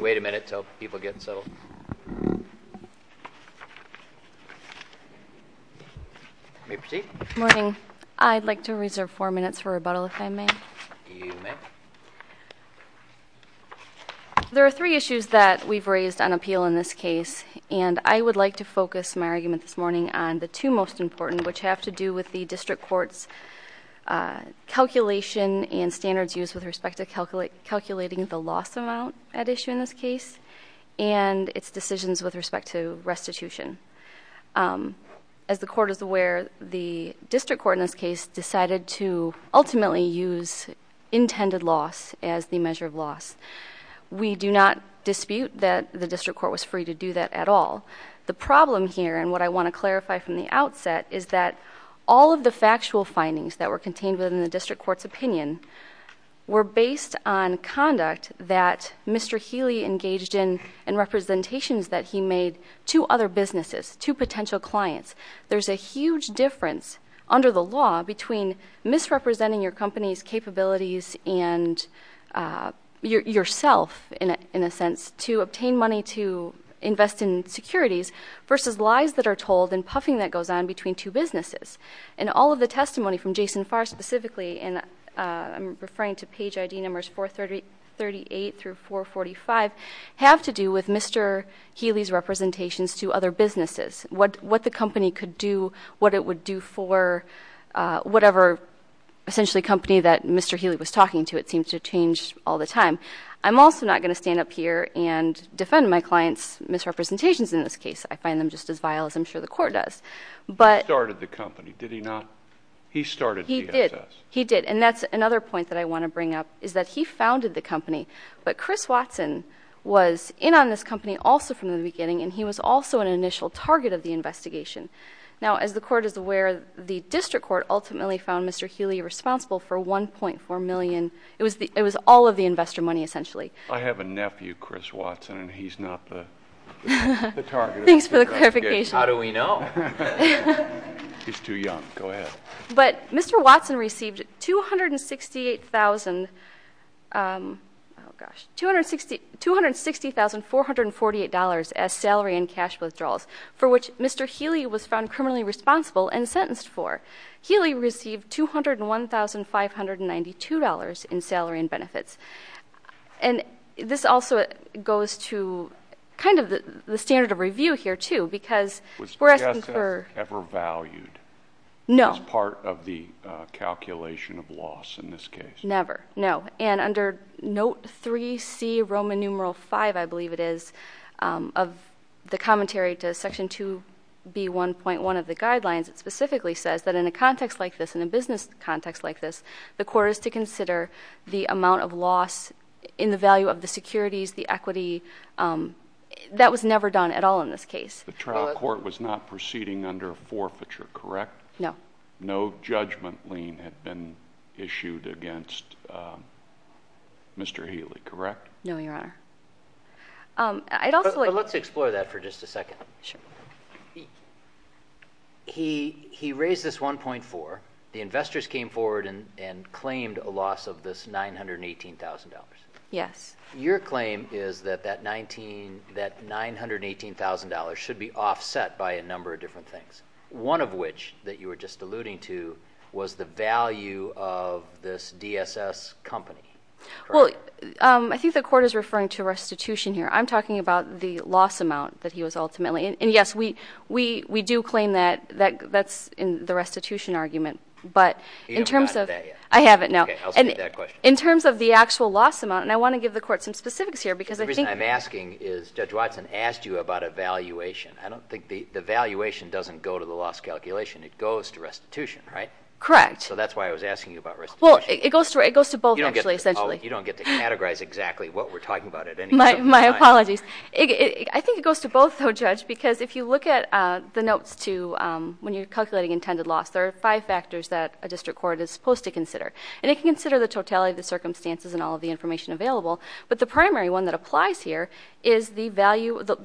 Wait a minute until people get settled. Morning. I'd like to reserve four minutes for rebuttal if I may. There are three issues that we've raised on appeal in this case and I would like to focus my argument this morning on the two most important which have to do with the district courts calculation and standards used with respect to calculating the loss amount at issue in this case and its decisions with respect to restitution. As the court is aware, the district court in this case decided to ultimately use intended loss as the measure of loss. We do not dispute that the district court was free to do that at all. The problem here and what I want to clarify from the outset is that all of the factual findings that were contained within the district court's opinion were based on conduct that Mr. Healy engaged in and representations that he made to other businesses, to potential clients. There's a huge difference under the law between misrepresenting your company's capabilities and yourself in a sense to obtain money to invest in securities versus lies that are told and puffing that goes on between two businesses. And all of the testimony from Jason Farr specifically and I'm referring to page ID numbers 438-445 have to do with Mr. Healy's representations to other businesses. What the company could do, what it would do for whatever essentially company that Mr. Healy was talking to, it seems to change all the time. I'm also not going to stand up here and defend my client's misrepresentations in this case. I find them just as vile as I'm sure the court does. He started the company, did he not? He started DSS. He did and that's another point that I want to bring up is that he founded the company but Chris Watson was in on this company also from the beginning and he was also an initial target of the investigation. Now as the court is aware, the district court ultimately found Mr. Healy responsible for $1.4 million. It was all of the investor money essentially. I have a nephew, Chris Watson and he's not the target. Thanks for the clarification. How do we know? He's too young. Go ahead. But Mr. Watson received $260,448 as salary and cash withdrawals for which Mr. Healy was found criminally responsible and sentenced for. Healy received $201,592 in salary and benefits. This also goes to kind of the standard of review here too because we're asking for the amount of money that was ever valued as part of the calculation of loss in this case. Never, no. And under note 3C, Roman numeral 5 I believe it is, of the commentary to section 2B1.1 of the guidelines, it specifically says that in a context like this, in a business context like this, the court is to consider the amount of loss in the value of the securities, the equity. That was never done at all in this case. The trial court was not proceeding under a forfeiture, correct? No. No judgment lien had been issued against Mr. Healy, correct? No, Your Honor. Let's explore that for just a second. He raised this $1.4 million. The claim is that that $918,000 should be offset by a number of different things, one of which that you were just alluding to was the value of this DSS company, correct? Well, I think the court is referring to restitution here. I'm talking about the loss amount that he was ultimately, and yes, we do claim that that's in the restitution argument, but in terms of... You haven't gotten to that yet. I haven't, no. Okay, I'll speak to that question. In terms of the actual loss amount, and I want to give the court some specifics here because I think... The reason I'm asking is Judge Watson asked you about a valuation. I don't think the valuation doesn't go to the loss calculation. It goes to restitution, right? Correct. So that's why I was asking you about restitution. Well, it goes to both actually, essentially. Oh, you don't get to categorize exactly what we're talking about at any given time. My apologies. I think it goes to both, though, Judge, because if you look at the notes to when you're calculating intended loss, there are five factors that a district court is supposed to consider, and it can consider the totality of the circumstances and all of the information available, but the primary one that applies here is the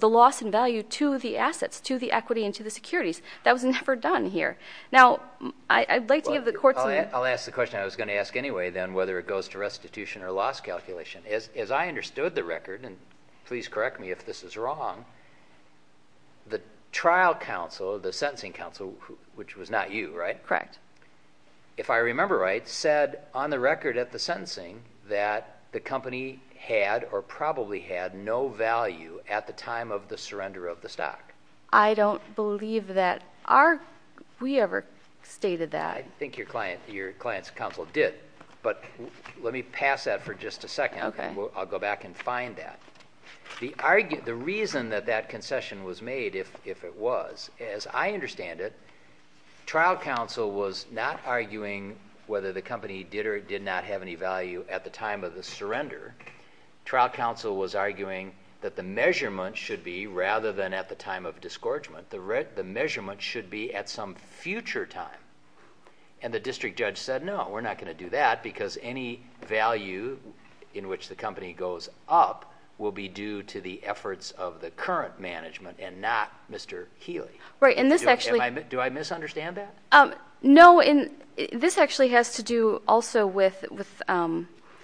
loss and value to the assets, to the equity and to the securities. That was never done here. Now, I'd like to give the court some... I'll ask the question I was going to ask anyway then, whether it goes to restitution or loss calculation. As I understood the record, and please correct me if this is wrong, the trial counsel, the sentencing counsel, which was not you, right? Correct. If I remember right, said on the record at the sentencing that the company had or probably had no value at the time of the surrender of the stock. I don't believe that we ever stated that. I think your client's counsel did, but let me pass that for just a second. Okay. I'll go back and find that. The reason that that concession was made, if it was, as I understand it, trial counsel was not arguing whether the company did or did not have any value at the time of the surrender. Trial counsel was arguing that the measurement should be, rather than at the time of disgorgement, the measurement should be at some future time. The district judge said, no, we're not going to do that because any value in which the company goes up will be due to the efforts of the current management and not Mr. Healy. Right, and this actually... Do I misunderstand that? No, and this actually has to do also with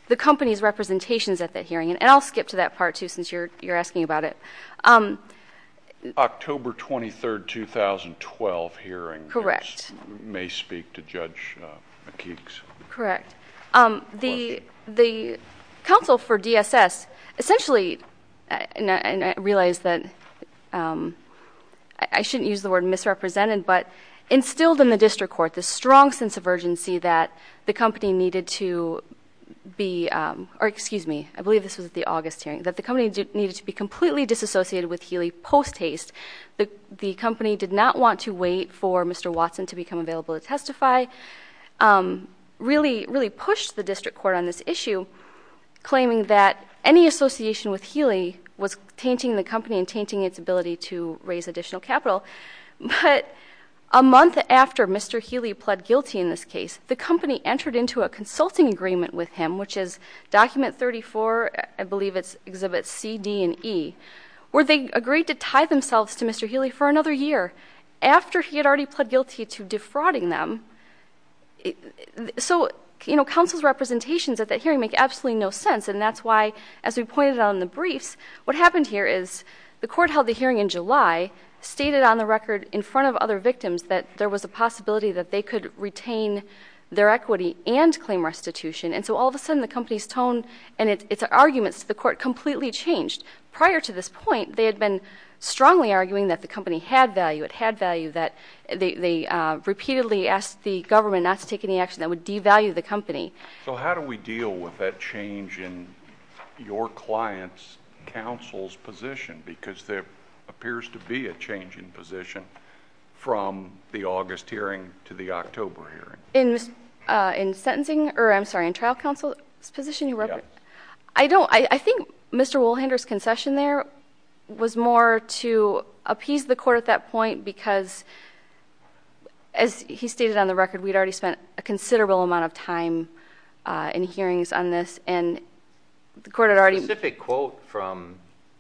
the company's representations at that hearing, and I'll skip to that part, too, since you're asking about it. October 23rd, 2012 hearing. Correct. May speak to Judge McKeeks. Correct. The counsel for DSS essentially, and I realize that I shouldn't use the word misrepresented, but instilled in the district court this strong sense of urgency that the company needed to be, or excuse me, I believe this was at the August hearing, that the company needed to be completely disassociated with Healy post-haste. The company did not want to wait for Mr. Watson to become available to testify, really pushed the district court on this issue, claiming that any association with Healy was tainting the company and tainting its ability to raise additional capital. But a month after Mr. Healy pled guilty in this case, the company entered into a consulting agreement with him, which is document 34, I believe it exhibits C, D, and E, where they agreed to tie themselves to Mr. Healy for another year after he had already pled guilty to defrauding them. So, you know, counsel's representations at that hearing make absolutely no sense, and that's why, as we pointed out in the briefs, what happened here is the court held the hearing in July, stated on the record in front of other victims that there was a possibility that they could retain their equity and claim restitution, and so all of a sudden the company's tone and its arguments to the court completely changed. Prior to this point, they had been strongly arguing that the company had value, it had value, that they repeatedly asked the government not to take any action that would devalue the company. So how do we deal with that change in your client's counsel's position? Because there appears to be a change in position from the August hearing to the October hearing. In sentencing, or I'm sorry, in trial counsel's position? Yes. I don't, I think Mr. Wolhander's concession there was more to appease the court at that time in hearings on this, and the court had already... The specific quote from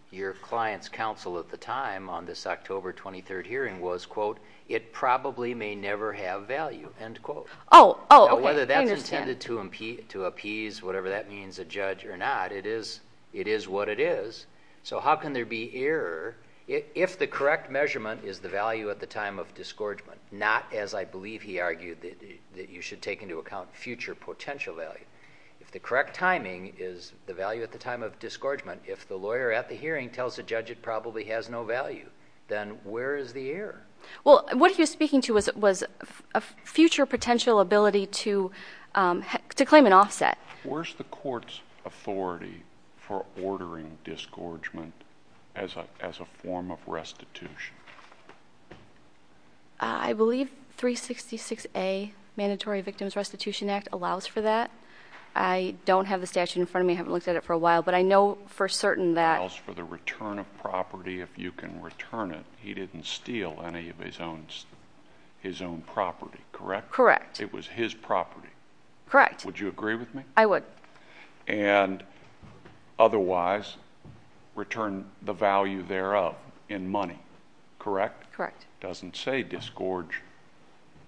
your client's counsel at the time on this October 23rd hearing was, quote, it probably may never have value, end quote. Oh, oh, okay, I understand. Now whether that's intended to appease, whatever that means, a judge or not, it is, it is what it is, so how can there be error if the correct measurement is the value at the time of If the correct timing is the value at the time of disgorgement, if the lawyer at the hearing tells the judge it probably has no value, then where is the error? Well, what he was speaking to was a future potential ability to claim an offset. Where's the court's authority for ordering disgorgement as a form of restitution? I believe 366A, Mandatory Victims Restitution Act, allows for that. I don't have the statute in front of me. I haven't looked at it for a while, but I know for certain that... ...for the return of property, if you can return it, he didn't steal any of his own property, correct? Correct. It was his property. Correct. Would you agree with me? I would. And otherwise, return the value thereof in money, correct? Correct. It doesn't say disgorge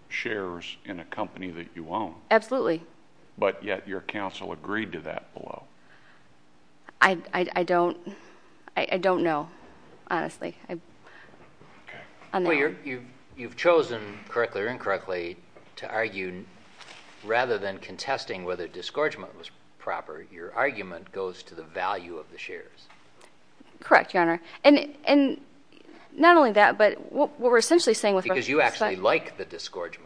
shares in a company that you own. Absolutely. But yet your counsel agreed to that below. I don't know, honestly. Okay. Well, you've chosen, correctly or incorrectly, to argue, rather than contesting whether disgorgement was proper, your argument goes to the value of the shares. Correct, Your Honor. And not only that, but what we're essentially saying with respect to the statute... Because you actually like the disgorgement.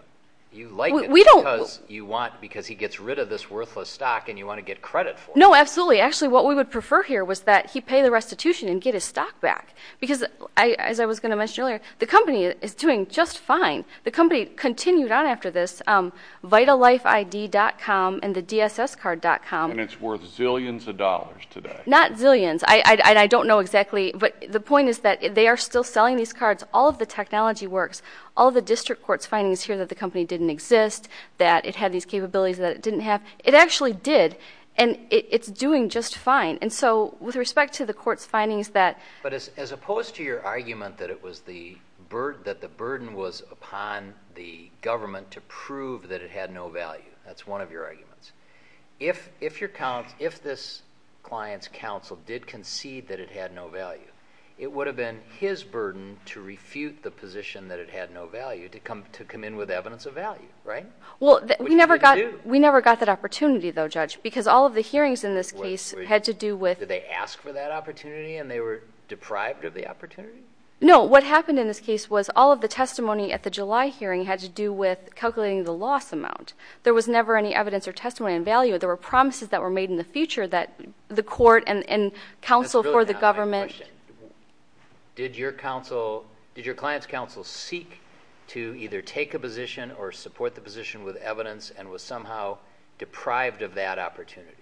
You like it because he gets rid of this worthless stock and you want to get credit for it. No, absolutely. Actually, what we would prefer here was that he pay the restitution and get his stock back. Because, as I was going to mention earlier, the company is doing just fine. The company continued on after this vitalifeid.com and the dsscard.com. And it's worth zillions of dollars today. Not zillions. I don't know exactly, but the point is that they are still selling these cards. All of the technology works. All of the district court's findings here that the company didn't exist, that it had these capabilities that it didn't have, it actually did. And it's doing just fine. And so, with respect to the court's findings that... But as opposed to your argument that the burden was upon the government to prove that it had no value, that's one of your arguments. If this client's counsel did concede that it had no value, it would have been his burden to refute the position that it had no value to come in with evidence of value, right? Well, we never got that opportunity, though, Judge, because all of the hearings in this case had to do with... Deprived of the opportunity? No, what happened in this case was all of the testimony at the July hearing had to do with calculating the loss amount. There was never any evidence or testimony on value. There were promises that were made in the future that the court and counsel for the government... That's really not my question. Did your counsel, did your client's counsel seek to either take a position or support the position with evidence and was somehow deprived of that opportunity?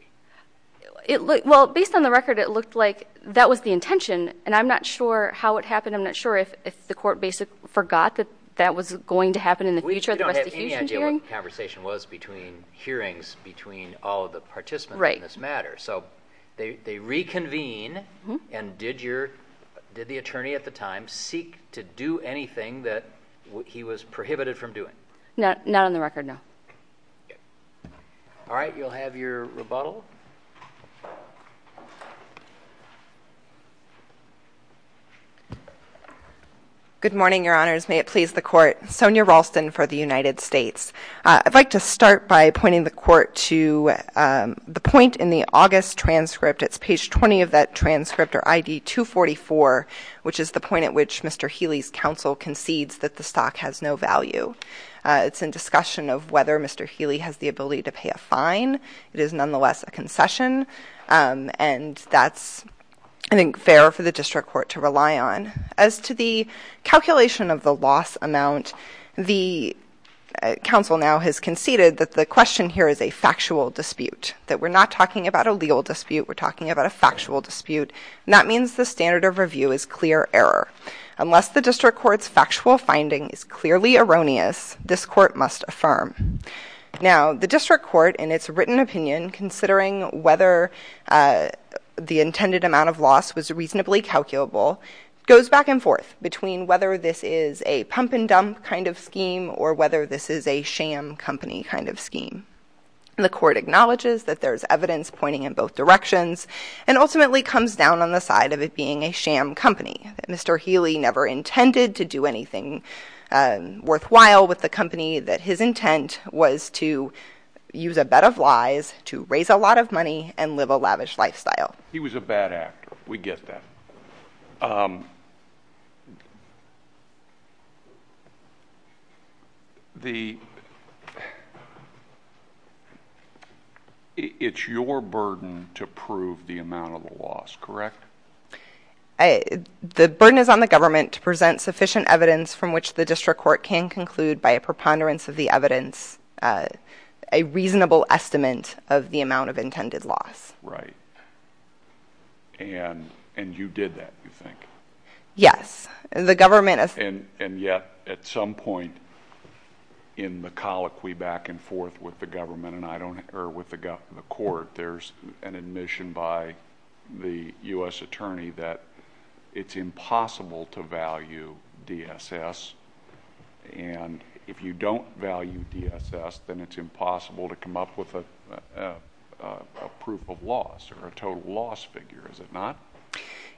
Well, based on the record, it looked like that was the intention, and I'm not sure how it happened. I'm not sure if the court basically forgot that that was going to happen in the future. We don't have any idea what the conversation was between hearings, between all of the participants in this matter. So they reconvene, and did the attorney at the time seek to do anything that he was prohibited from doing? Not on the record, no. All right. You'll have your rebuttal. Good morning, Your Honors. May it please the Court. Sonya Ralston for the United States. I'd like to start by pointing the Court to the point in the August transcript. It's page 20 of that transcript, or ID 244, which is the point at which Mr. Healy's counsel concedes that the stock has no value. It's in discussion of whether Mr. Healy has the ability to pay a fine. It is nonetheless a concession, and that's, I think, fair for the District Court to rely on. As to the calculation of the loss amount, the counsel now has conceded that the question here is a factual dispute, that we're not talking about a legal dispute, we're talking about a factual dispute, and that means the standard of review is clear error. Unless the District Court's factual finding is clearly erroneous, this Court must affirm. Now, the District Court, in its written opinion, considering whether the intended amount of loss was reasonably calculable, goes back and forth between whether this is a pump-and-dump kind of scheme or whether this is a sham company kind of scheme. The Court acknowledges that there's evidence pointing in both directions and ultimately comes down on the side of it being a sham company, that Mr. Healy never intended to do anything worthwhile with the company, that his intent was to use a bet of lies to raise a lot of money and live a lavish lifestyle. He was a bad actor. We get that. It's your burden to prove the amount of the loss, correct? The burden is on the government to present sufficient evidence from which the District Court can conclude by a preponderance of the evidence a reasonable estimate of the amount of intended loss. Right. And you did that, you think? Yes. The government has. And yet, at some point in the colloquy back and forth with the government or with the Court, there's an admission by the U.S. Attorney that it's impossible to value DSS, and if you don't value DSS, then it's impossible to come up with a proof of loss or a total loss figure, is it not?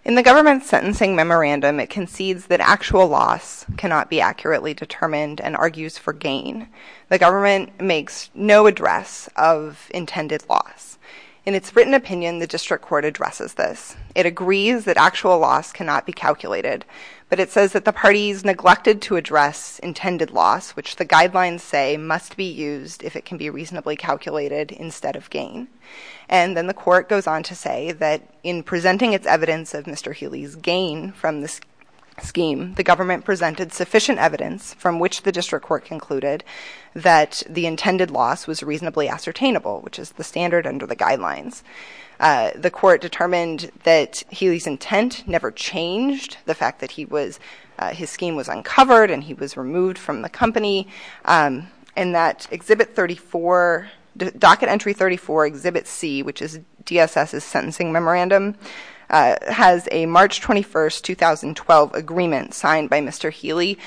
In the government's sentencing memorandum, it concedes that actual loss cannot be accurately determined and argues for gain. The government makes no address of intended loss. In its written opinion, the District Court addresses this. It agrees that actual loss cannot be calculated, but it says that the parties neglected to address intended loss, which the guidelines say must be used if it can be reasonably calculated instead of gain. And then the Court goes on to say that in presenting its evidence of Mr. Healy's gain from this scheme, the government presented sufficient evidence from which the District Court concluded that the intended loss was reasonably ascertainable, which is the standard under the guidelines. The Court determined that Healy's intent never changed. The fact that he was, his scheme was uncovered and he was removed from the company. And that Exhibit 34, Docket Entry 34, Exhibit C, which is DSS's sentencing memorandum, has a March 21, 2012 agreement signed by Mr. Healy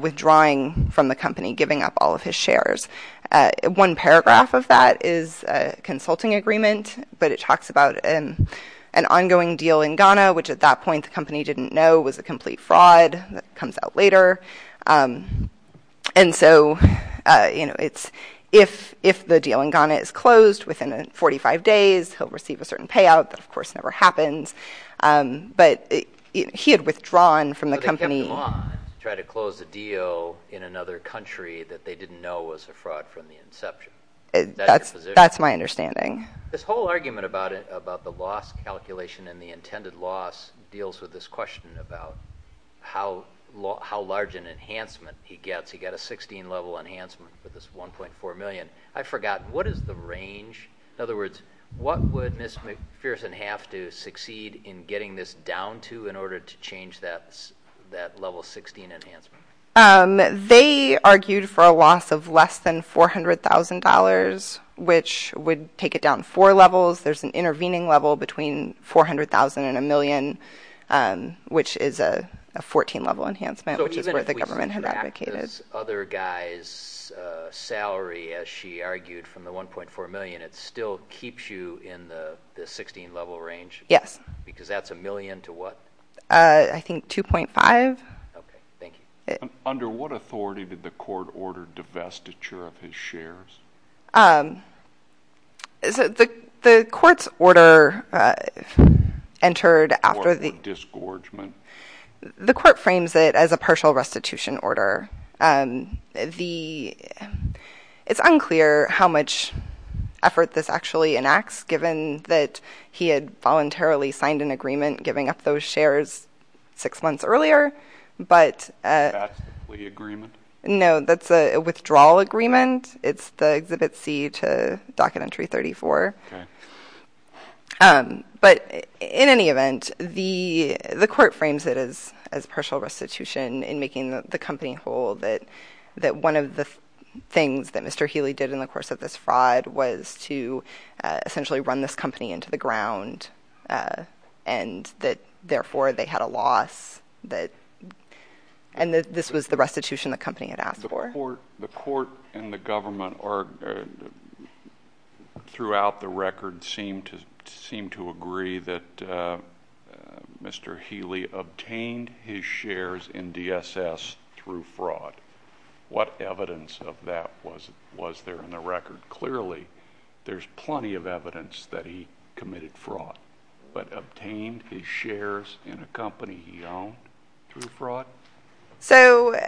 withdrawing from the company, giving up all of his shares. One paragraph of that is a consulting agreement, but it talks about an ongoing deal in Ghana, which at that point the company didn't know was a complete fraud that comes out later. And so, you know, it's if the deal in Ghana is closed within 45 days, he'll receive a certain payout that of course never happens. But he had withdrawn from the company. So they kept him on to try to close a deal in another country that they didn't know was a fraud from the inception. That's my understanding. This whole argument about the loss calculation and the intended loss deals with this question about how large an enhancement he gets. He got a 16-level enhancement for this $1.4 million. I forgot, what is the range? In other words, what would Ms. McPherson have to succeed in getting this down to in order to change that level 16 enhancement? They argued for a loss of less than $400,000, which would take it down four levels. There's an intervening level between $400,000 and a million, which is a 14-level enhancement, which is what the government had advocated. So even if we subtract this other guy's salary, as she argued, from the $1.4 million, it still keeps you in the 16-level range? Yes. Because that's a million to what? I think $2.5. Okay. Thank you. Under what authority did the court order divestiture of his shares? The court's order entered after the— Court for disgorgement. The court frames it as a partial restitution order. It's unclear how much effort this actually enacts, given that he had voluntarily signed an agreement giving up those shares six months earlier, but— That's the plea agreement? No, that's a withdrawal agreement. It's the Exhibit C to Docket Entry 34. Okay. But in any event, the court frames it as partial restitution in making the company whole that one of the things that Mr. Healy did in the course of this fraud was to essentially run this company into the ground and that, therefore, they had a loss. And this was the restitution the company had asked for. The court and the government throughout the record seem to agree that Mr. Healy obtained his shares in DSS through fraud. What evidence of that was there in the record? Clearly, there's plenty of evidence that he committed fraud, but obtained his shares in a company he owned through fraud? So,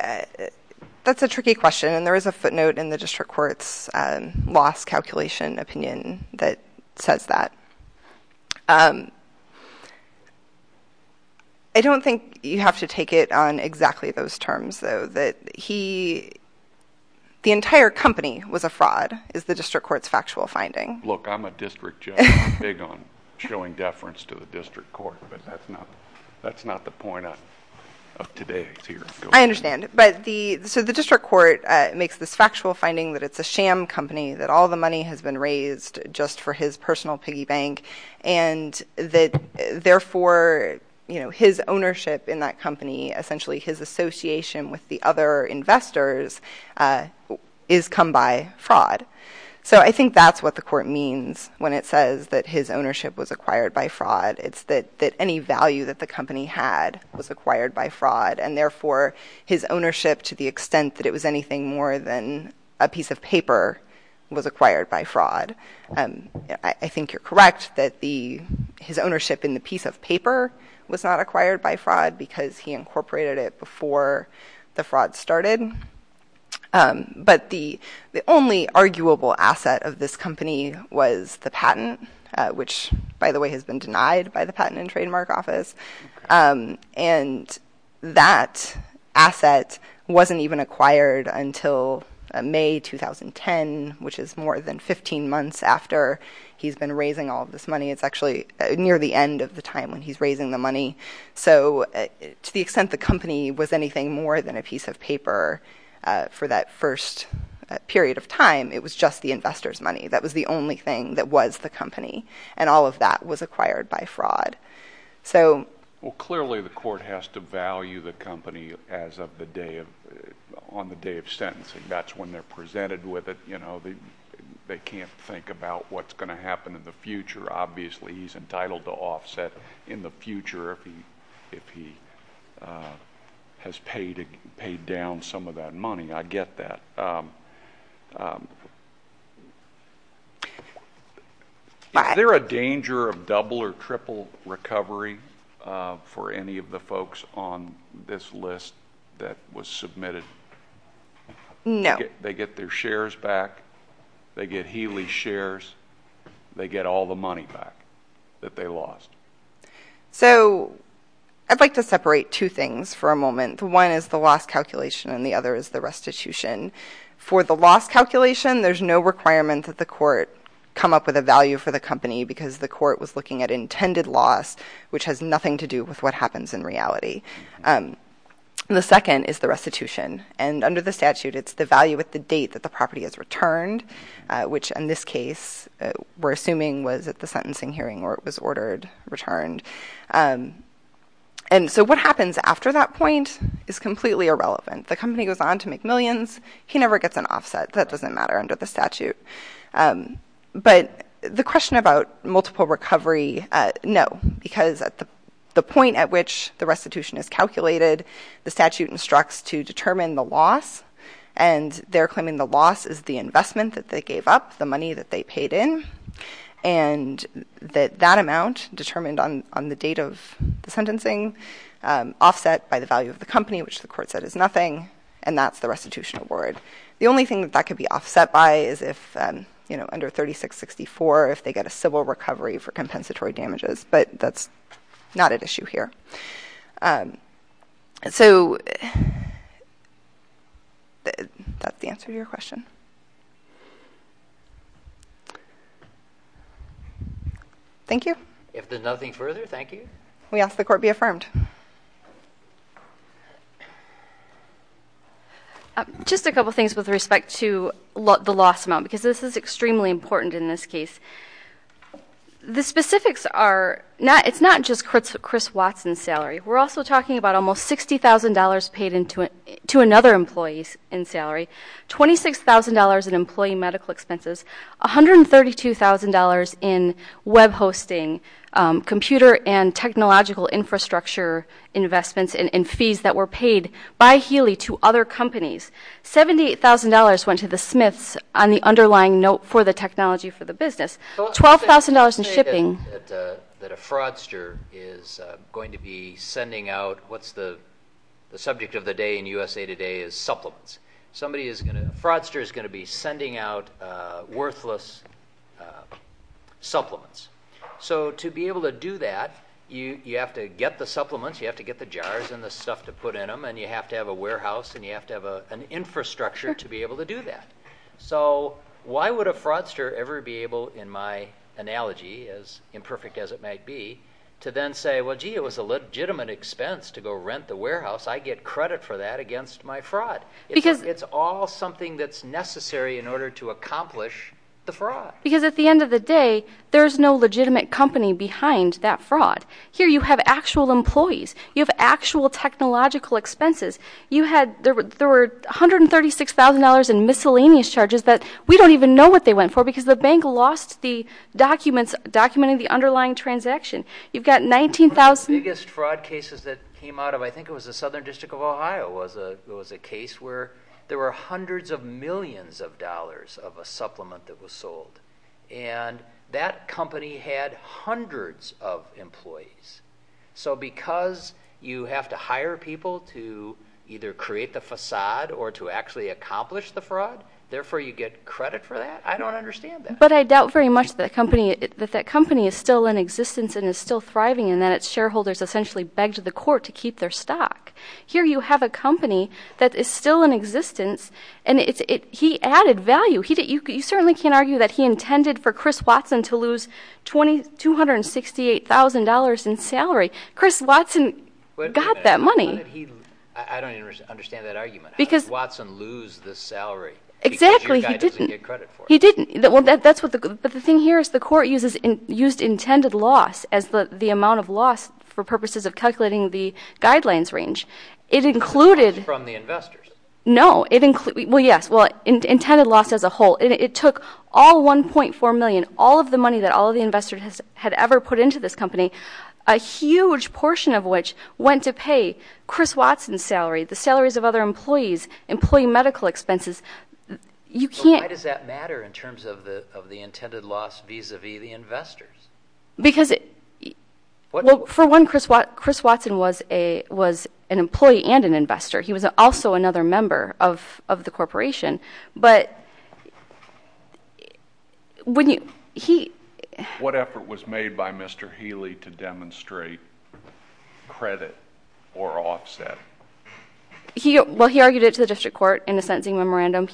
that's a tricky question, and there is a footnote in the district court's loss calculation opinion that says that. I don't think you have to take it on exactly those terms, though, that the entire company was a fraud is the district court's factual finding. Look, I'm a district judge. I'm big on showing deference to the district court, but that's not the point of today's hearing. I understand. So, the district court makes this factual finding that it's a sham company, that all the money has been raised just for his personal piggy bank, and that, therefore, his ownership in that company, essentially his association with the other investors, is come by fraud. So, I think that's what the court means when it says that his ownership was acquired by fraud. It's that any value that the company had was acquired by fraud, and, therefore, his ownership to the extent that it was anything more than a piece of paper was acquired by fraud. I think you're correct that his ownership in the piece of paper was not acquired by fraud because he incorporated it before the fraud started. But the only arguable asset of this company was the patent, which, by the way, has been denied by the Patent and Trademark Office. And that asset wasn't even acquired until May 2010, which is more than 15 months after he's been raising all this money. It's actually near the end of the time when he's raising the money. So, to the extent the company was anything more than a piece of paper for that first period of time, it was just the investor's money. That was the only thing that was the company, and all of that was acquired by fraud. Well, clearly, the court has to value the company on the day of sentencing. That's when they're presented with it. They can't think about what's going to happen in the future. Obviously, he's entitled to offset in the future if he has paid down some of that money. I get that. Is there a danger of double or triple recovery for any of the folks on this list that was submitted? No. They get their shares back. They get Healey's shares. They get all the money back that they lost. So, I'd like to separate two things for a moment. One is the loss calculation, and the other is the restitution. For the loss calculation, there's no requirement that the court come up with a value for the company because the court was looking at intended loss, which has nothing to do with what happens in reality. The second is the restitution. And under the statute, it's the value at the date that the property is returned, which in this case we're assuming was at the sentencing hearing where it was ordered returned. And so what happens after that point is completely irrelevant. The company goes on to make millions. He never gets an offset. That doesn't matter under the statute. But the question about multiple recovery, no, because at the point at which the restitution is calculated, the statute instructs to determine the loss, and they're claiming the loss is the investment that they gave up, the money that they paid in, and that that amount determined on the date of the sentencing offset by the value of the company, which the court said is nothing, and that's the restitution award. The only thing that that could be offset by is if, you know, under 3664, if they get a civil recovery for compensatory damages, but that's not at issue here. So that's the answer to your question. Thank you. If there's nothing further, thank you. We ask the court be affirmed. Just a couple things with respect to the loss amount, because this is extremely important in this case. The specifics are, it's not just Chris Watson's salary. We're also talking about almost $60,000 paid to another employee's salary, $26,000 in employee medical expenses, $132,000 in web hosting, computer and technological infrastructure investments, and fees that were paid by Healy to other companies. $78,000 went to the Smiths on the underlying note for the technology for the business. $12,000 in shipping. Let me say that a fraudster is going to be sending out, what's the subject of the day in USA Today is supplements. Somebody is going to, a fraudster is going to be sending out worthless supplements. So to be able to do that, you have to get the supplements, you have to get the jars and the stuff to put in them, and you have to have a warehouse and you have to have an infrastructure to be able to do that. So why would a fraudster ever be able, in my analogy, as imperfect as it might be, to then say, well, gee, it was a legitimate expense to go rent the warehouse. I get credit for that against my fraud. It's all something that's necessary in order to accomplish the fraud. Because at the end of the day, there's no legitimate company behind that fraud. Here you have actual employees. You have actual technological expenses. There were $136,000 in miscellaneous charges that we don't even know what they went for because the bank lost the documents documenting the underlying transaction. You've got $19,000. One of the biggest fraud cases that came out of, I think it was the Southern District of Ohio, was a case where there were hundreds of millions of dollars of a supplement that was sold. And that company had hundreds of employees. So because you have to hire people to either create the facade or to actually accomplish the fraud, therefore you get credit for that? I don't understand that. But I doubt very much that that company is still in existence and is still thriving and that its shareholders essentially begged the court to keep their stock. Here you have a company that is still in existence, and he added value. You certainly can't argue that he intended for Chris Watson to lose $268,000 in salary. Chris Watson got that money. Wait a minute. I don't understand that argument. How did Watson lose the salary because your guy doesn't get credit for it? Exactly. He didn't. He didn't. But the thing here is the court used intended loss as the amount of loss for purposes of calculating the guidelines range. It included... From the investors. No. Well, yes, intended loss as a whole. It took all $1.4 million, all of the money that all of the investors had ever put into this company, a huge portion of which went to pay Chris Watson's salary, the salaries of other employees, employee medical expenses. Why does that matter in terms of the intended loss vis-a-vis the investors? Because for one, Chris Watson was an employee and an investor. He was also another member of the corporation. But when he... What effort was made by Mr. Healy to demonstrate credit or offset? Well, he argued it to the district court in a sentencing memorandum.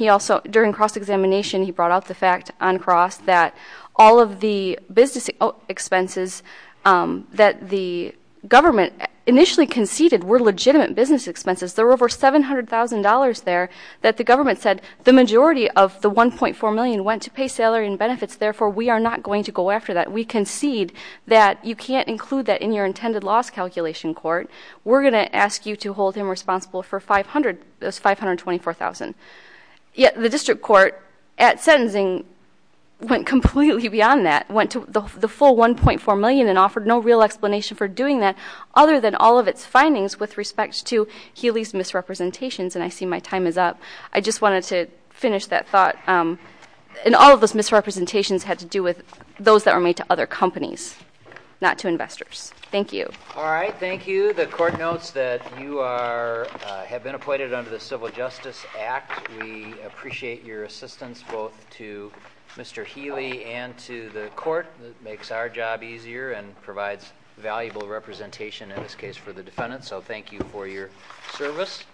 During cross-examination, he brought out the fact on cross that all of the business expenses that the government initially conceded were legitimate business expenses. There were over $700,000 there that the government said, the majority of the $1.4 million went to pay salary and benefits, therefore we are not going to go after that. We concede that you can't include that in your intended loss calculation court. We're going to ask you to hold him responsible for $524,000. Yet the district court at sentencing went completely beyond that, went to the full $1.4 million and offered no real explanation for doing that other than all of its findings with respect to Healy's misrepresentations. And I see my time is up. I just wanted to finish that thought. And all of those misrepresentations had to do with those that were made to other companies, not to investors. Thank you. All right, thank you. The court notes that you have been appointed under the Civil Justice Act. We appreciate your assistance both to Mr. Healy and to the court. It makes our job easier and provides valuable representation in this case for the defendant. So thank you for your service.